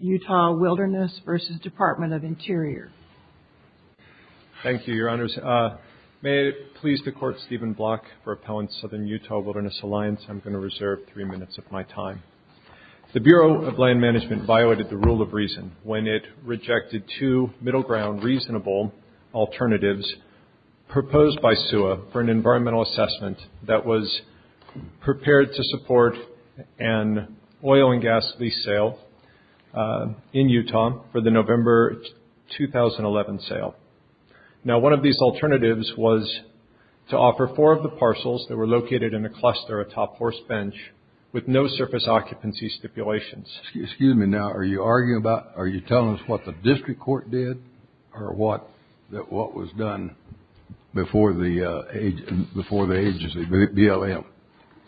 Utah Wilderness v. Department of Interior. Thank you, Your Honors. May it please the Court, Stephen Block for Appellant Southern Utah Wilderness Alliance. I'm going to reserve three minutes of my time. The Bureau of Land Management violated the rule of reason when it rejected two middle ground reasonable alternatives proposed by SUA for an environmental assessment that was prepared to support an oil and gas lease sale in Utah for the November 2011 sale. One of these alternatives was to offer four of the parcels that were located in a cluster atop horse bench with no surface occupancy stipulations. Excuse me. Now, are you telling us what the district court did or what was done before the agency, BLM?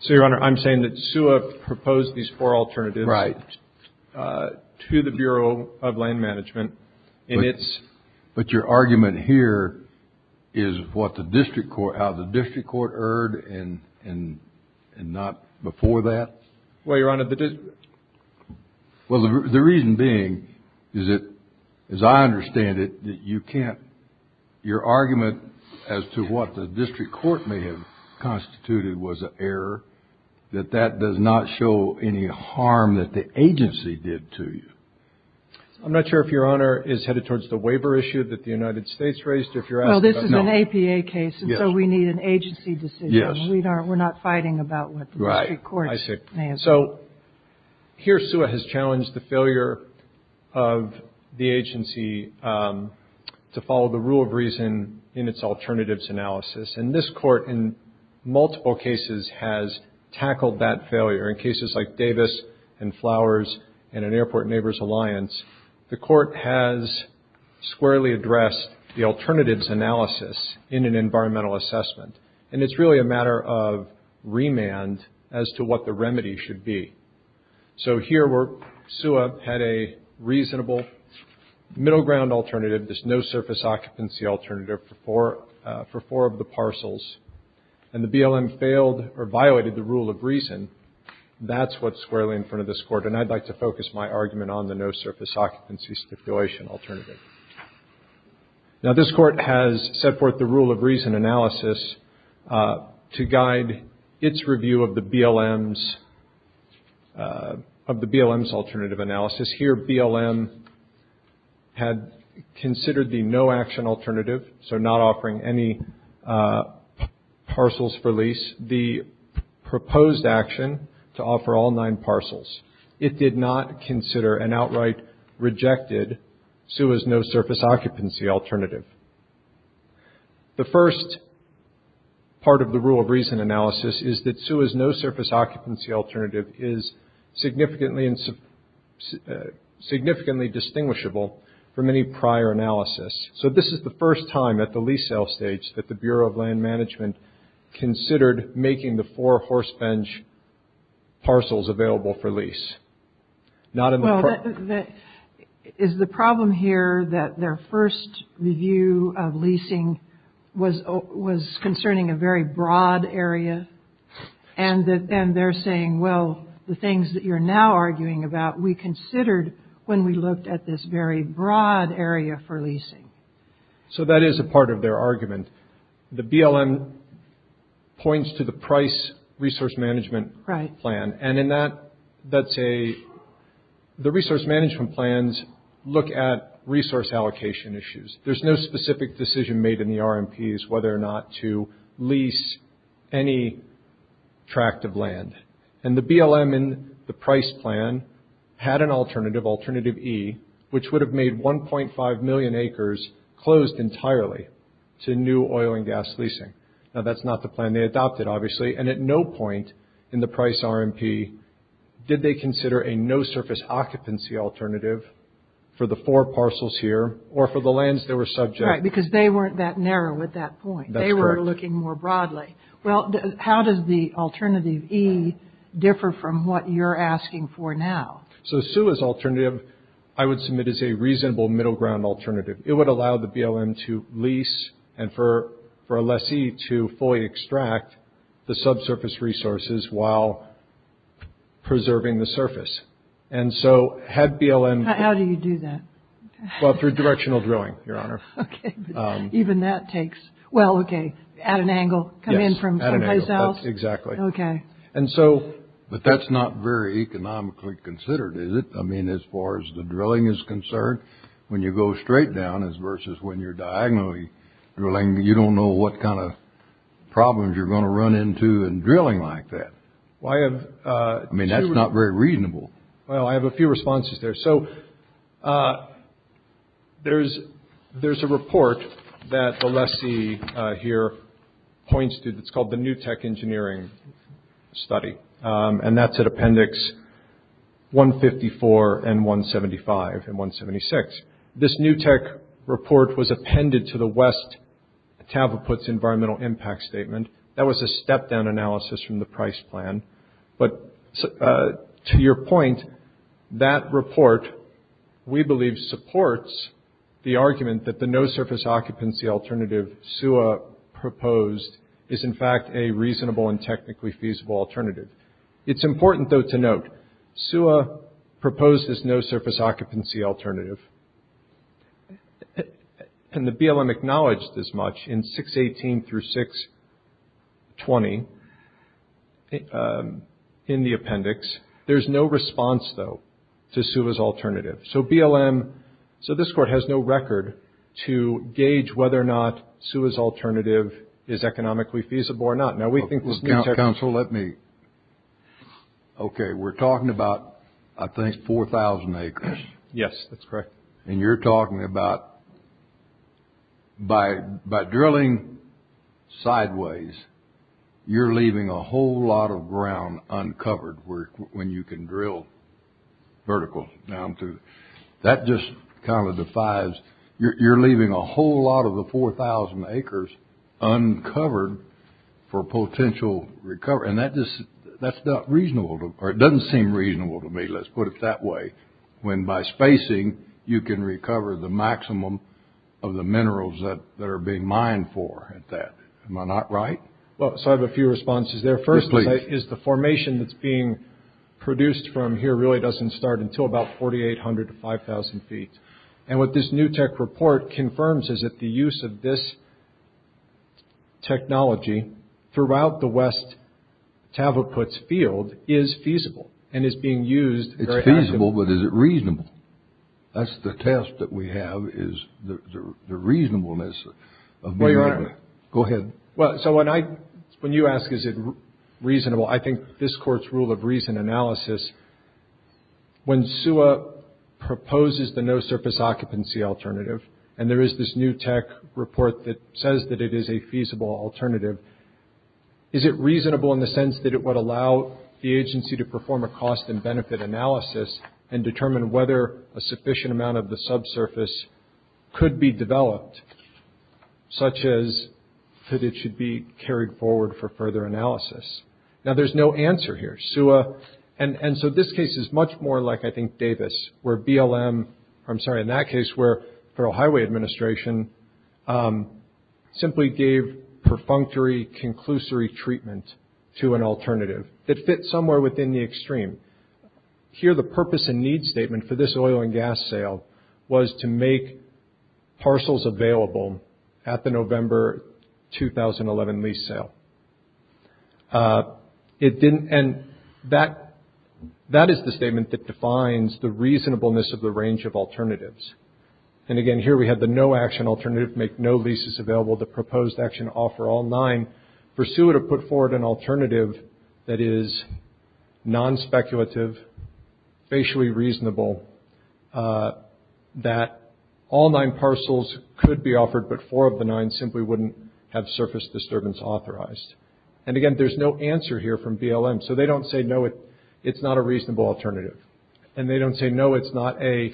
So, Your Honor, I'm saying that SUA proposed these four alternatives to the Bureau of Land Management and it's... But your argument here is what the district court, how the district court erred and not before that? Well, Your Honor, the district... may have constituted was an error, that that does not show any harm that the agency did to you. I'm not sure if Your Honor is headed towards the waiver issue that the United States raised or if you're asking about... Well, this is an APA case. Yes. And so, we need an agency decision. We're not fighting about what the district court may have done. Right. I see. So, here SUA has challenged the failure of the agency to follow the rule of reason in its alternatives analysis and this court, in multiple cases, has tackled that failure. In cases like Davis and Flowers and an Airport Neighbors Alliance, the court has squarely addressed the alternatives analysis in an environmental assessment and it's really a matter of remand as to what the remedy should be. So, here where SUA had a reasonable middle ground alternative, this no surface occupancy alternative for four of the parcels and the BLM failed or violated the rule of reason, that's what's squarely in front of this court and I'd like to focus my argument on the no surface occupancy stipulation alternative. Now, this court has set forth the rule of reason analysis to guide its review of the BLM's alternative analysis. Here BLM had considered the no action alternative, so not offering any parcels for lease, the proposed action to offer all nine parcels. It did not consider an outright rejected SUA's no surface occupancy alternative. The first part of the rule of reason analysis is that SUA's no surface occupancy alternative is significantly distinguishable from any prior analysis. So this is the first time at the lease sale stage that the Bureau of Land Management considered making the four horse bench parcels available for lease. Well, is the problem here that their first review of leasing was concerning a very broad area and they're saying, well, the things that you're now arguing about we considered when we looked at this very broad area for leasing. So that is a part of their argument. The BLM points to the price resource management plan and in that, that's a, the resource management plans look at resource allocation issues. There's no specific decision made in the RMPs whether or not to lease any tract of land. And the BLM in the price plan had an alternative, alternative E, which would have made 1.5 million acres closed entirely to new oil and gas leasing. Now that's not the plan they adopted obviously. And at no point in the price RMP did they consider a no surface occupancy alternative for the four parcels here or for the lands that were subject. Right, because they weren't that narrow at that point. They were looking more broadly. Well, how does the alternative E differ from what you're asking for now? So SUA's alternative I would submit as a reasonable middle ground alternative. It would allow the BLM to lease and for a lessee to fully extract the subsurface resources while preserving the surface. And so had BLM... How do you do that? Well, through directional drilling, your honor. Even that takes, well, okay, at an angle, come in from someplace else. Exactly. Okay. And so... But that's not very economically considered, is it? I mean, as far as the drilling is concerned, when you go straight down as versus when you're diagonally drilling, you don't know what kind of problems you're going to run into in drilling like that. Why have... I mean, that's not very reasonable. Well, I have a few responses there. So there's a report that the lessee here points to that's called the New Tech Engineering Study, and that's at appendix 154 and 175 and 176. This New Tech report was appended to the West Tavaputs Environmental Impact Statement. That was a step-down analysis from the price plan. But to your point, that report, we believe, supports the argument that the no-surface occupancy alternative SUA proposed is in fact a reasonable and technically feasible alternative. It's important though to note, SUA proposed this no-surface occupancy alternative, and the BLM acknowledged this much in 618 through 620 in the appendix. There's no response though to SUA's alternative. So BLM... So this court has no record to gauge whether or not SUA's alternative is economically feasible or not. Now, we think this New Tech... Counsel, let me... Okay. We're talking about, I think, 4,000 acres. Yes. That's correct. And you're talking about, by drilling sideways, you're leaving a whole lot of ground uncovered when you can drill vertical down to... That just kind of defies... You're leaving a whole lot of the 4,000 acres uncovered for potential recovery. And that's not reasonable, or it doesn't seem reasonable to me, let's put it that way, when by spacing, you can recover the maximum of the minerals that are being mined for at that. Am I not right? Well, so I have a few responses there. Firstly, is the formation that's being produced from here really doesn't start until about 4,800 to 5,000 feet. And what this New Tech report confirms is that the use of this technology throughout the West Tavaputs field is feasible, and is being used very actively. It's reasonable, but is it reasonable? That's the test that we have, is the reasonableness of being able to... Well, Your Honor... Go ahead. Well, so when you ask, is it reasonable, I think this Court's rule of reason analysis, when SUA proposes the no-surface occupancy alternative, and there is this New Tech report that says that it is a feasible alternative, is it reasonable in the sense that it would allow the agency to perform a cost and benefit analysis, and determine whether a sufficient amount of the subsurface could be developed, such as that it should be carried forward for further analysis? Now there's no answer here. SUA... And so this case is much more like, I think, Davis, where BLM... I'm sorry, in that case, where the Federal Highway Administration simply gave perfunctory conclusory treatment to an alternative that fit somewhere within the extreme. Here the purpose and need statement for this oil and gas sale was to make parcels available at the November 2011 lease sale. It didn't... And that is the statement that defines the reasonableness of the range of alternatives. And again, here we have the no-action alternative, make no leases available, the proposed action offer all nine, pursue it or put forward an alternative that is non-speculative, facially reasonable, that all nine parcels could be offered, but four of the nine simply wouldn't have surface disturbance authorized. And again, there's no answer here from BLM. So they don't say, no, it's not a reasonable alternative. And they don't say, no, it's not a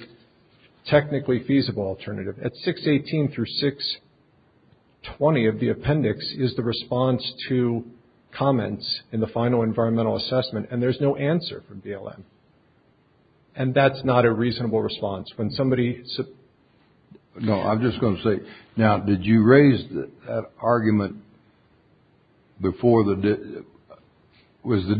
technically feasible alternative. At 618 through 620 of the appendix is the response to comments in the final environmental assessment, and there's no answer from BLM. And that's not a reasonable response. When somebody... No, I'm just going to say, now, did you raise that argument before the... We raised the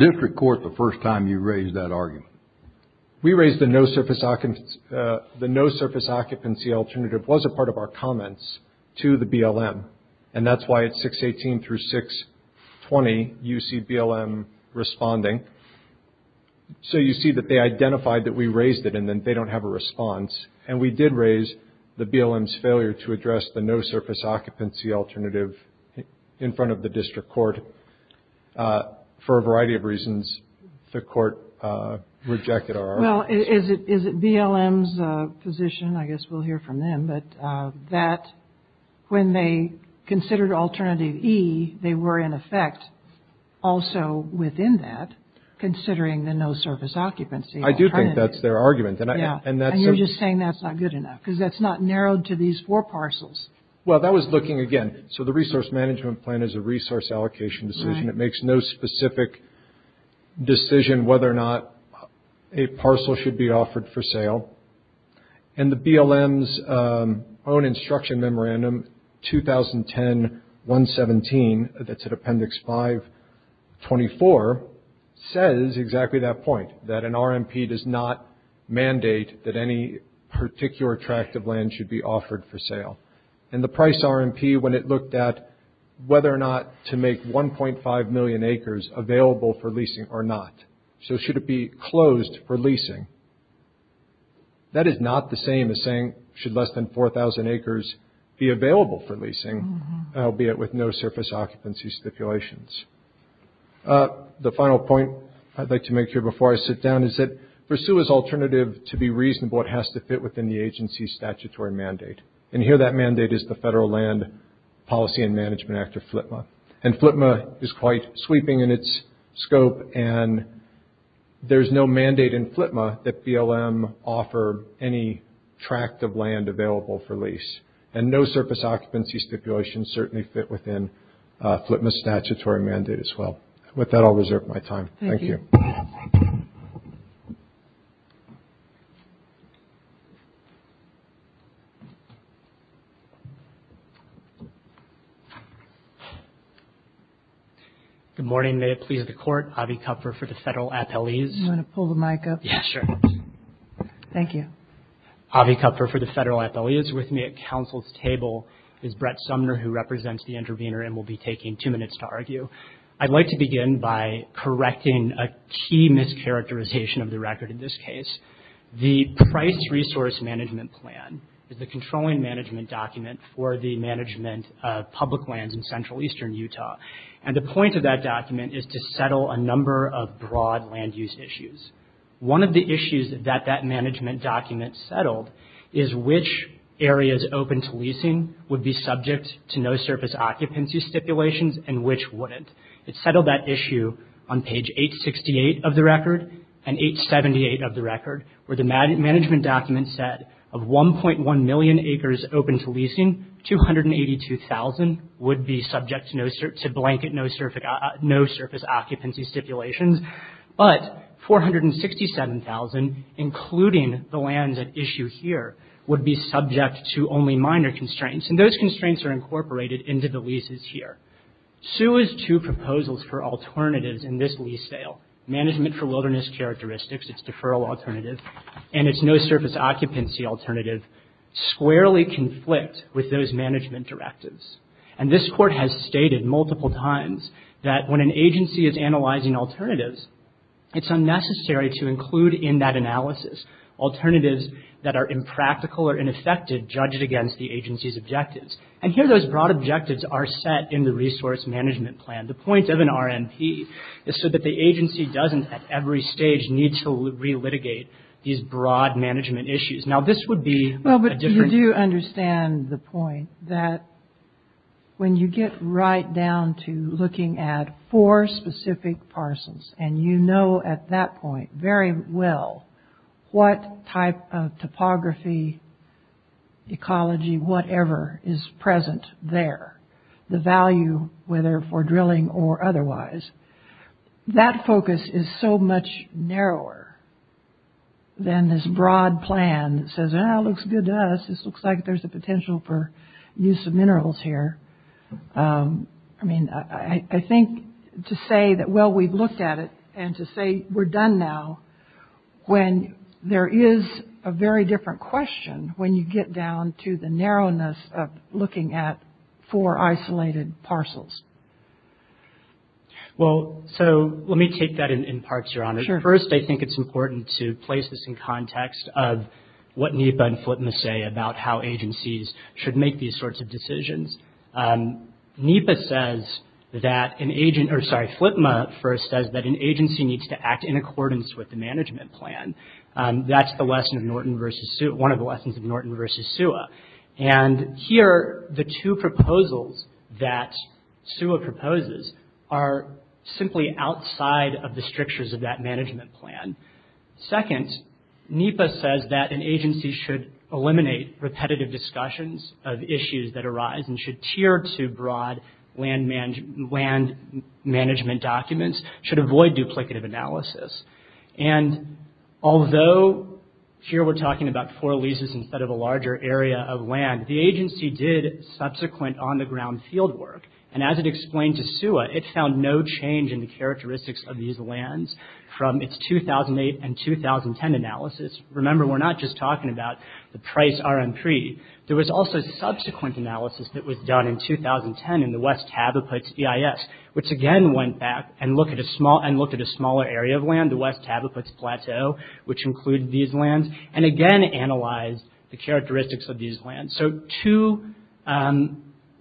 no-surface occupancy alternative was a part of our comments to the BLM. And that's why at 618 through 620, you see BLM responding. So you see that they identified that we raised it, and then they don't have a response. And we did raise the BLM's failure to address the no-surface occupancy alternative in front of the district court for a variety of reasons. The court rejected our... Well, is it BLM's position, I guess we'll hear from them, but that when they considered alternative E, they were in effect also within that, considering the no-surface occupancy alternative. I do think that's their argument. And that's... Yeah, and you're just saying that's not good enough, because that's not narrowed to these four parcels. Well, that was looking, again... So the resource management plan is a resource allocation decision. It makes no specific decision whether or not a parcel should be offered for sale. And the BLM's own instruction memorandum, 2010-117, that's at Appendix 5-24, says exactly that point, that an RMP does not mandate that any particular tract of land should be offered for sale. And the price RMP, when it looked at whether or not to make 1.5 million acres available for leasing or not, so should it be closed for leasing, that is not the same as saying should less than 4,000 acres be available for leasing, albeit with no-surface occupancy stipulations. The final point I'd like to make here before I sit down is that for SUA's alternative to be reasonable, it has to fit within the agency's statutory mandate. And here that mandate is the Federal Land Policy and Management Act of FLTMA. And FLTMA is quite sweeping in its scope, and there's no mandate in FLTMA that BLM offer any tract of land available for lease. And no-surface occupancy stipulations certainly fit within FLTMA's statutory mandate as well. With that, I'll reserve my time. Thank you. Thank you. Good morning. May it please the Court. Avi Kupfer for the Federal Appellees. You want to pull the mic up? Yes, sure. Thank you. Avi Kupfer for the Federal Appellees. With me at Council's table is Brett Sumner, who represents the intervener and will be taking two minutes to argue. I'd like to begin by correcting a key mischaracterization of the record in this case. The Price Resource Management Plan is the controlling management document for the management of public lands in central eastern Utah. And the point of that document is to settle a number of broad land use issues. One of the issues that that management document settled is which areas open to leasing would be subject to no-surface occupancy stipulations and which wouldn't. It settled that issue on page 868 of the record and 878 of the record, where the management document said of 1.1 million acres open to leasing, 282,000 would be subject to blanket no-surface occupancy stipulations. But 467,000, including the lands at issue here, would be subject to only minor constraints. And those constraints are incorporated into the leases here. SUA's two proposals for alternatives in this lease sale, Management for Wilderness Characteristics, its deferral alternative, and its no-surface occupancy alternative, squarely conflict with those management directives. And this Court has stated multiple times that when an agency is analyzing alternatives, it's unnecessary to include in that analysis alternatives that are impractical or ineffective to judge it against the agency's objectives. And here those broad objectives are set in the Resource Management Plan. The point of an RNP is so that the agency doesn't at every stage need to re-litigate these broad management issues. Now this would be a different... Well, but you do understand the point that when you get right down to looking at four ecology, whatever is present there, the value, whether for drilling or otherwise, that focus is so much narrower than this broad plan that says, ah, it looks good to us, this looks like there's a potential for use of minerals here. I mean, I think to say that, well, we've looked at it, and to say we're done now, when there is a very different question when you get down to the narrowness of looking at four isolated parcels. Well, so let me take that in parts, Your Honor. Sure. First, I think it's important to place this in context of what NEPA and FLTMA say about how agencies should make these sorts of decisions. NEPA says that an agent, or sorry, FLTMA first says that an agency needs to act in accordance with the management plan. That's the lesson of Norton versus... One of the lessons of Norton versus SUA. And here, the two proposals that SUA proposes are simply outside of the strictures of that management plan. Second, NEPA says that an agency should eliminate repetitive discussions of issues that arise and should tier to broad land management documents, should avoid duplicative analysis. And although here we're talking about four leases instead of a larger area of land, the agency did subsequent on-the-ground field work. And as it explained to SUA, it found no change in the characteristics of these lands from its 2008 and 2010 analysis. Remember, we're not just talking about the price RMP. There was also subsequent analysis that was done in 2010 in the West Habitats EIS, which again went back and looked at a smaller area of land, the West Habitats Plateau, which included these lands, and again analyzed the characteristics of these lands. So two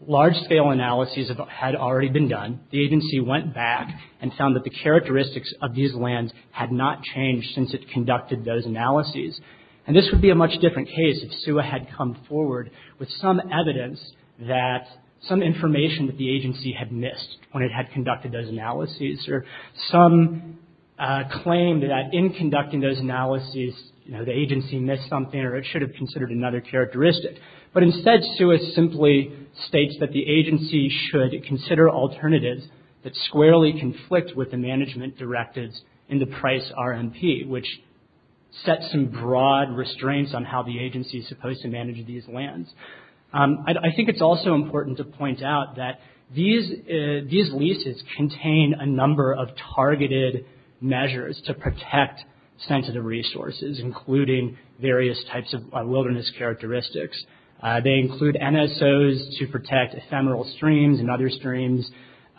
large-scale analyses had already been done. The agency went back and found that the characteristics of these lands had not changed since it conducted those analyses. And this would be a much different case if SUA had come forward with some evidence that some information that the agency had missed when it had conducted those analyses or some claim that in conducting those analyses, you know, the agency missed something or it should have considered another characteristic. But instead, SUA simply states that the agency should consider alternatives that squarely conflict with the management directives in the price RMP, which sets some broad restraints on how the agency is supposed to manage these lands. I think it's also important to point out that these leases contain a number of targeted measures to protect sensitive resources, including various types of wilderness characteristics. They include NSOs to protect ephemeral streams and other streams,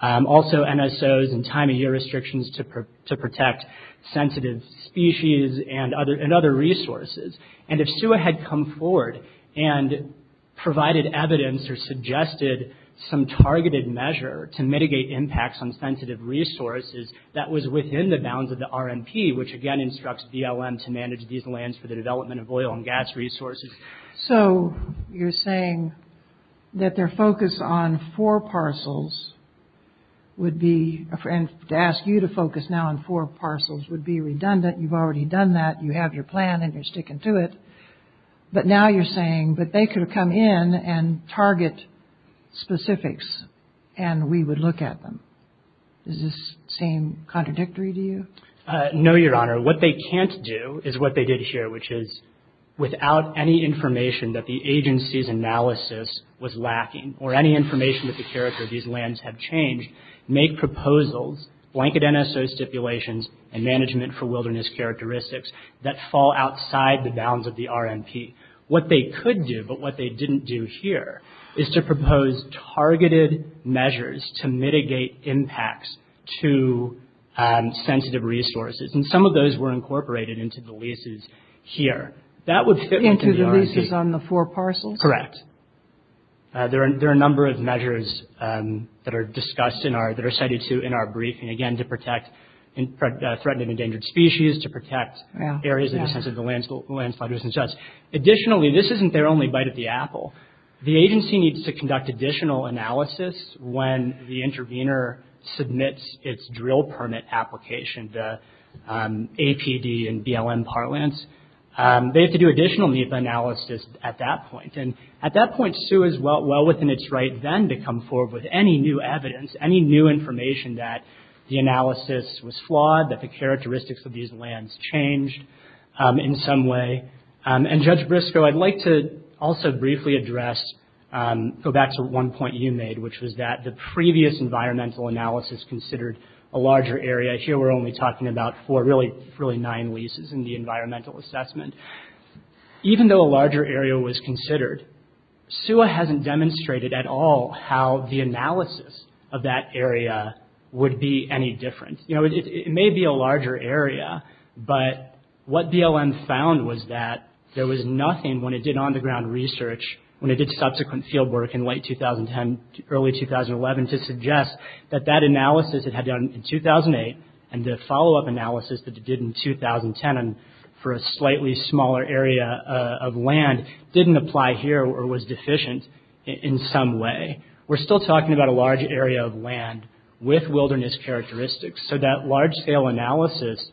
also NSOs and time of year restrictions to protect sensitive species and other resources. And if SUA had come forward and provided evidence or suggested some targeted measure to mitigate impacts on sensitive resources, that was within the bounds of the RMP, which again instructs BLM to manage these lands for the development of oil and gas resources. So you're saying that their focus on four parcels would be, and to ask you to focus now on four parcels, would be redundant. You've already done that. You have your plan and you're sticking to it. But now you're saying that they could have come in and target specifics and we would look at them. Does this seem contradictory to you? No, Your Honor. What they can't do is what they did here, which is without any information that the agency's analysis was lacking or any information that the character of these lands have changed, make proposals, blanket NSO stipulations, and management for wilderness characteristics that fall outside the bounds of the RMP. What they could do, but what they didn't do here, is to propose targeted measures to mitigate impacts to sensitive resources. And some of those were incorporated into the leases here. That would fit within the RMP. Into the leases on the four parcels? Correct. There are a number of measures that are discussed in our, that are cited too in our briefing. Again, to protect threatened and endangered species, to protect areas of the landslides and such. Additionally, this isn't their only bite at the apple. The agency needs to conduct additional analysis when the intervener submits its drill permit application, the APD and BLM parlance. They have to do additional NEPA analysis at that point. At that point, SUE is well within its right then to come forward with any new evidence, any new information that the analysis was flawed, that the characteristics of these lands changed in some way. And Judge Briscoe, I'd like to also briefly address, go back to one point you made, which was that the previous environmental analysis considered a larger area. Here we're only talking about four, really nine leases in the environmental assessment. Even though a larger area was considered, SUE hasn't demonstrated at all how the analysis of that area would be any different. You know, it may be a larger area, but what BLM found was that there was nothing when it did on the ground research, when it did subsequent field work in late 2010, early 2011, to suggest that that analysis it had done in 2008 and the follow-up analysis that it did in 2010 for a slightly smaller area of land didn't apply here or was deficient in some way. We're still talking about a large area of land with wilderness characteristics, so that large scale analysis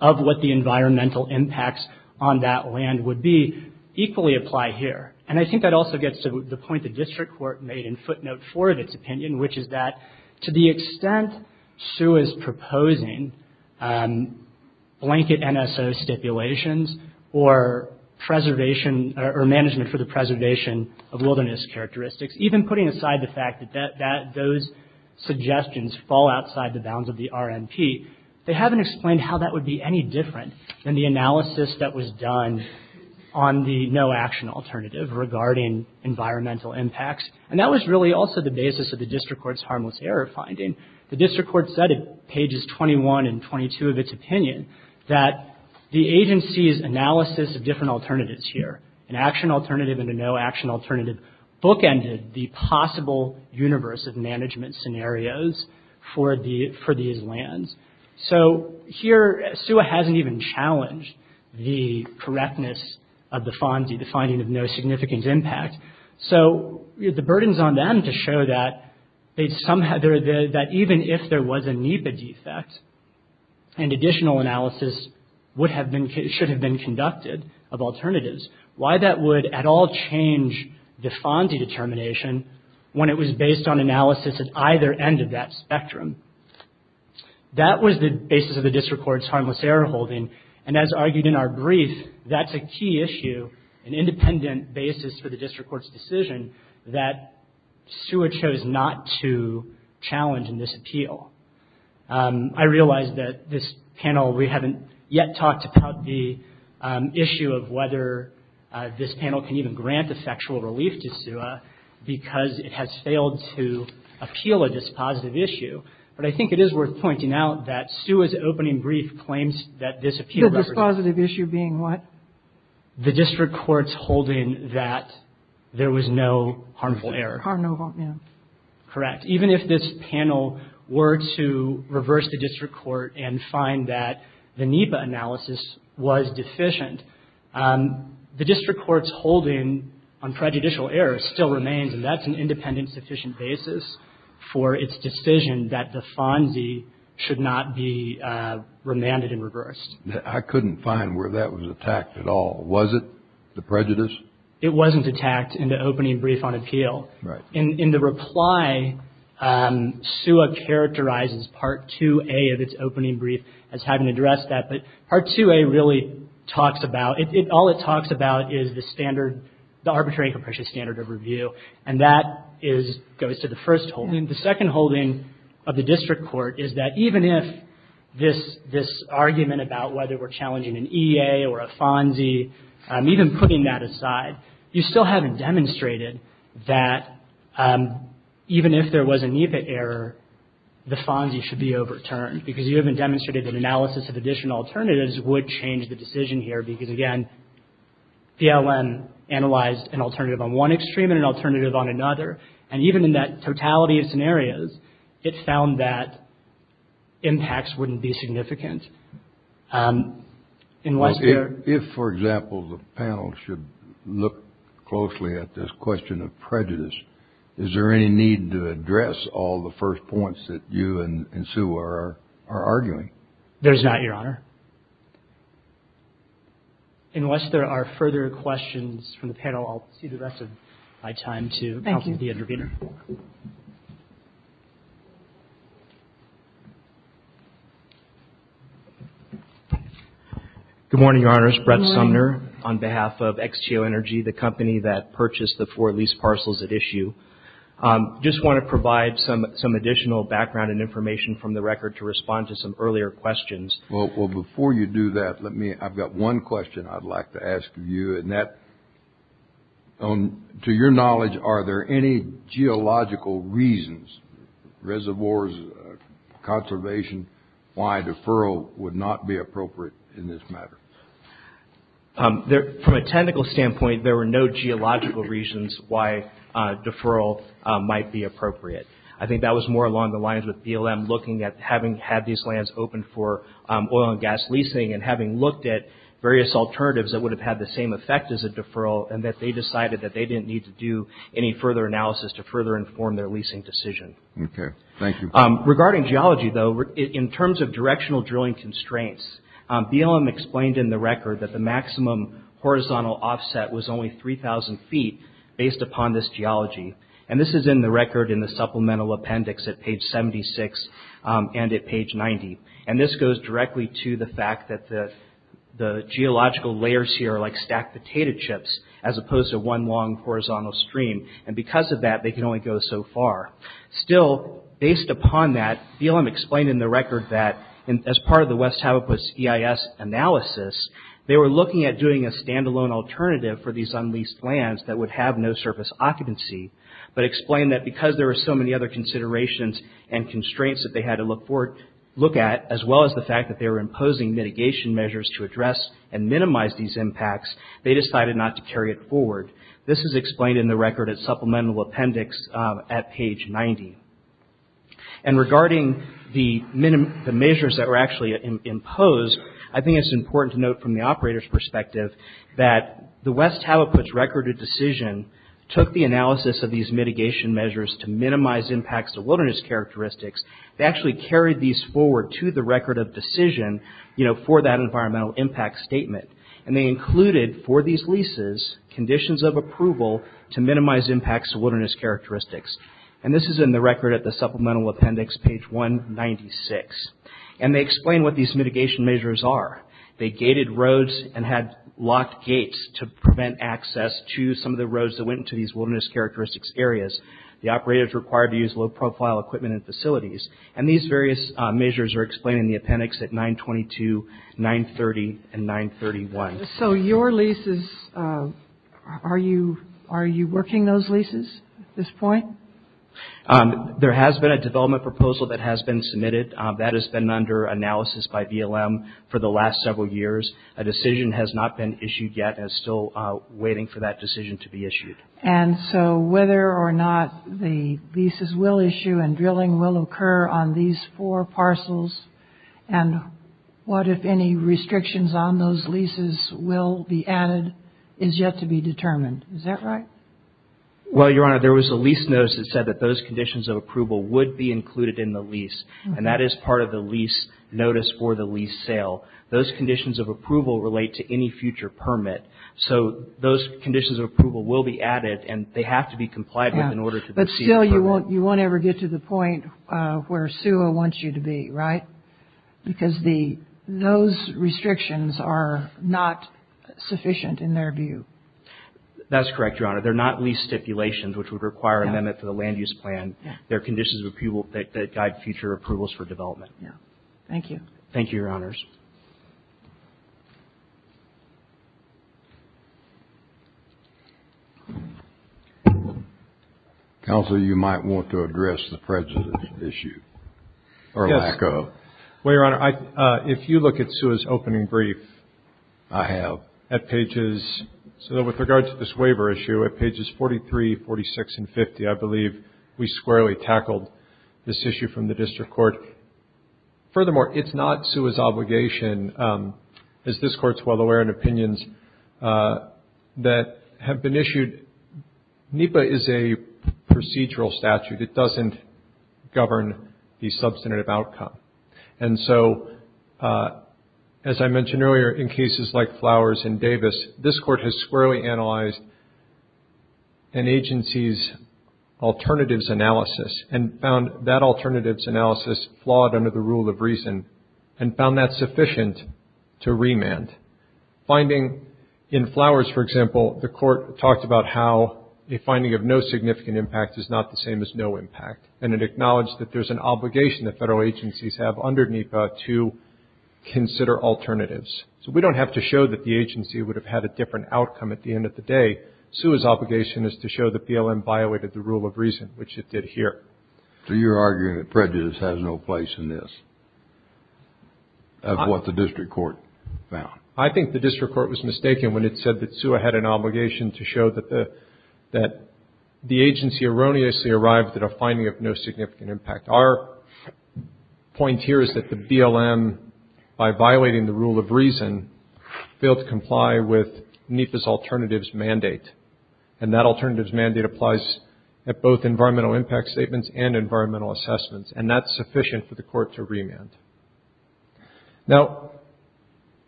of what the environmental impacts on that land would be equally apply here. And I think that also gets to the point the district court made in footnote four of its The extent SUE is proposing blanket NSO stipulations or preservation or management for the preservation of wilderness characteristics, even putting aside the fact that those suggestions fall outside the bounds of the RNP, they haven't explained how that would be any different than the analysis that was done on the no action alternative regarding environmental impacts. And that was really also the basis of the district court's harmless error finding. The district court said in pages 21 and 22 of its opinion that the agency's analysis of different alternatives here, an action alternative and a no action alternative, bookended the possible universe of management scenarios for these lands. So here, SUA hasn't even challenged the correctness of the finding of no significant impact. So the burden's on them to show that even if there was a NEPA defect, an additional analysis should have been conducted of alternatives. Why that would at all change the FONSI determination when it was based on analysis at either end of that spectrum. That was the basis of the district court's harmless error holding. And as argued in our brief, that's a key issue, an independent basis for the district court's decision that SUA chose not to challenge in this appeal. I realize that this panel, we haven't yet talked about the issue of whether this panel can even grant effectual relief to SUA because it has failed to appeal a dispositive issue. But I think it is worth pointing out that SUA's opening brief claims that this appeal represents. The dispositive issue being what? The district court's holding that there was no harmful error. Correct. Even if this panel were to reverse the district court and find that the NEPA analysis was deficient, the district court's holding on prejudicial error still remains and that's an independent, sufficient basis for its decision that the FONSI should not be remanded and reversed. I couldn't find where that was attacked at all. Was it? The prejudice? It wasn't attacked in the opening brief on appeal. In the reply, SUA characterizes Part 2A of its opening brief as having addressed that. But Part 2A really talks about, all it talks about is the standard, the arbitrary and capricious standard of review. And that goes to the first holding. The second holding of the district court is that even if this argument about whether we're challenging an EA or a FONSI, even putting that aside, you still haven't demonstrated that even if there was a NEPA error, the FONSI should be overturned because you haven't demonstrated that analysis of additional alternatives would change the decision here because, again, the LN analyzed an alternative on one extreme and an alternative on another. And even in that totality of scenarios, it found that impacts wouldn't be significant. If, for example, the panel should look closely at this question of prejudice, is there any need to address all the first points that you and SUA are arguing? There's not, Your Honor. Unless there are further questions from the panel, I'll see the rest of my time to counsel the intervener. Good morning, Your Honors. Brett Sumner on behalf of XTO Energy, the company that purchased the four lease parcels at issue. Just want to provide some additional background and information from the record to respond to some earlier questions. Well, before you do that, let me, I've got one question I'd like to ask you. And that, to your knowledge, are there any geological reasons, reservoirs, conservation, why deferral would not be appropriate in this matter? From a technical standpoint, there were no geological reasons why deferral might be appropriate. I think that was more along the lines with BLM looking at having had these lands open for oil and gas leasing and having looked at various alternatives that would have had the same effect as a deferral and that they decided that they didn't need to do any further analysis to further inform their leasing decision. Okay. Thank you. Regarding geology, though, in terms of directional drilling constraints, BLM explained in the record that the maximum horizontal offset was only 3,000 feet based upon this geology. And this is in the record in the supplemental appendix at page 76 and at page 90. And this goes directly to the fact that the geological layers here are like stacked potato chips as opposed to one long horizontal stream. And because of that, they can only go so far. Still, based upon that, BLM explained in the record that as part of the West Happus EIS analysis, they were looking at doing a standalone alternative for these unleased lands that would have no surface occupancy. But explained that because there were so many other considerations and constraints that they had to look at, as well as the fact that they were imposing mitigation measures to address and minimize these impacts, they decided not to carry it forward. This is explained in the record at supplemental appendix at page 90. And regarding the measures that were actually imposed, I think it's important to note from the operator's perspective that the West Happus Recorded Decision took the analysis of these mitigation measures to minimize impacts to wilderness characteristics. They actually carried these forward to the Record of Decision for that environmental impact statement. And they included for these leases conditions of approval to minimize impacts to wilderness characteristics. And this is in the record at the supplemental appendix, page 196. And they explain what these mitigation measures are. They gated roads and had locked gates to prevent access to some of the roads that went into these wilderness characteristics areas. The operators required to use low profile equipment and facilities. And these various measures are explained in the appendix at 922, 930, and 931. So your leases, are you working those leases at this point? There has been a development proposal that has been submitted. That has been under analysis by BLM for the last several years. A decision has not been issued yet and is still waiting for that decision to be issued. And so whether or not the leases will issue and drilling will occur on these four parcels. And what if any restrictions on those leases will be added is yet to be determined. Is that right? Well, Your Honor, there was a lease notice that said that those conditions of approval would be included in the lease. And that is part of the lease notice for the lease sale. Those conditions of approval relate to any future permit. So those conditions of approval will be added and they have to be complied with in order to proceed. But still you won't ever get to the point where SUA wants you to be, right? Because those restrictions are not sufficient in their view. That's correct, Your Honor. They're not lease stipulations, which would require an amendment to the land use plan. They're conditions of approval that guide future approvals for development. Thank you. Thank you, Your Honors. Counselor, you might want to address the prejudice issue or lack of. Well, Your Honor, if you look at SUA's opening brief. I have. At pages, so with regard to this waiver issue at pages 43, 46 and 50, I believe we squarely tackled this issue from the district court. Furthermore, it's not SUA's obligation, as this court's well aware, in opinions that have been issued. NEPA is a procedural statute. It doesn't govern the substantive outcome. And so, as I mentioned earlier, in cases like Flowers and Davis, this court has squarely analyzed an agency's alternatives analysis and found that alternatives analysis flawed under the rule of reason and found that sufficient to remand. Finding in Flowers, for example, the court talked about how a finding of no significant impact is not the same as no impact. And it acknowledged that there's an obligation that federal agencies have under NEPA to consider alternatives. So we don't have to show that the agency would have had a different outcome at the end of the day. SUA's obligation is to show that BLM violated the rule of reason, which it did here. So you're arguing that prejudice has no place in this, of what the district court found? I think the district court was mistaken when it said that SUA had an obligation to show that the agency erroneously arrived at a finding of no significant impact. Our point here is that the BLM, by violating the rule of reason, failed to comply with NEPA's alternatives mandate. And that alternatives mandate applies at both environmental impact statements and environmental assessments. And that's sufficient for the court to remand. Now,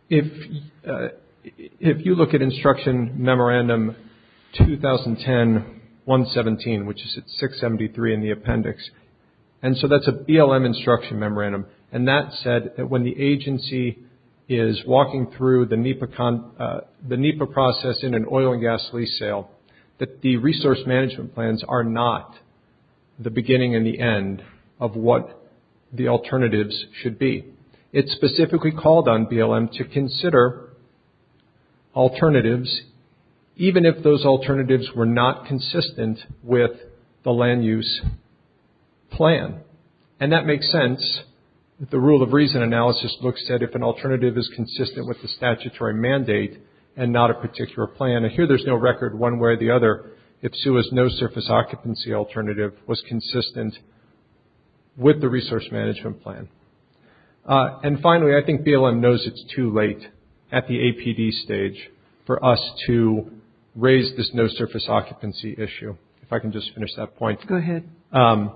if you look at Instruction Memorandum 2010-117, which is at 673 in the appendix, and so that's a BLM instruction memorandum, and that said that when the agency is walking through the NEPA process in an oil and gas lease sale, that the resource management plans are not the beginning and the end of what the alternatives should be. It specifically called on BLM to consider alternatives, even if those alternatives were not consistent with the land use plan. And that makes sense. The rule of reason analysis looks at if an alternative is consistent with the statutory mandate and not a particular plan. Now, here there's no record one way or the other if SUA's no surface occupancy alternative was consistent with the resource management plan. And finally, I think BLM knows it's too late at the APD stage for us to raise this no surface occupancy issue. If I can just finish that point. Go ahead. The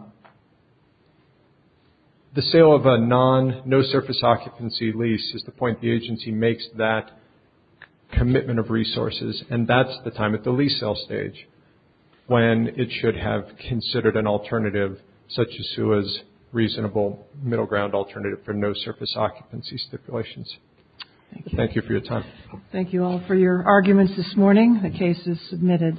sale of a non no surface occupancy lease is the point the agency makes that commitment of resources. And that's the time at the lease sale stage when it should have considered an alternative such as SUA's reasonable middle ground alternative for no surface occupancy stipulations. Thank you for your time. Thank you all for your arguments this morning. The case is submitted.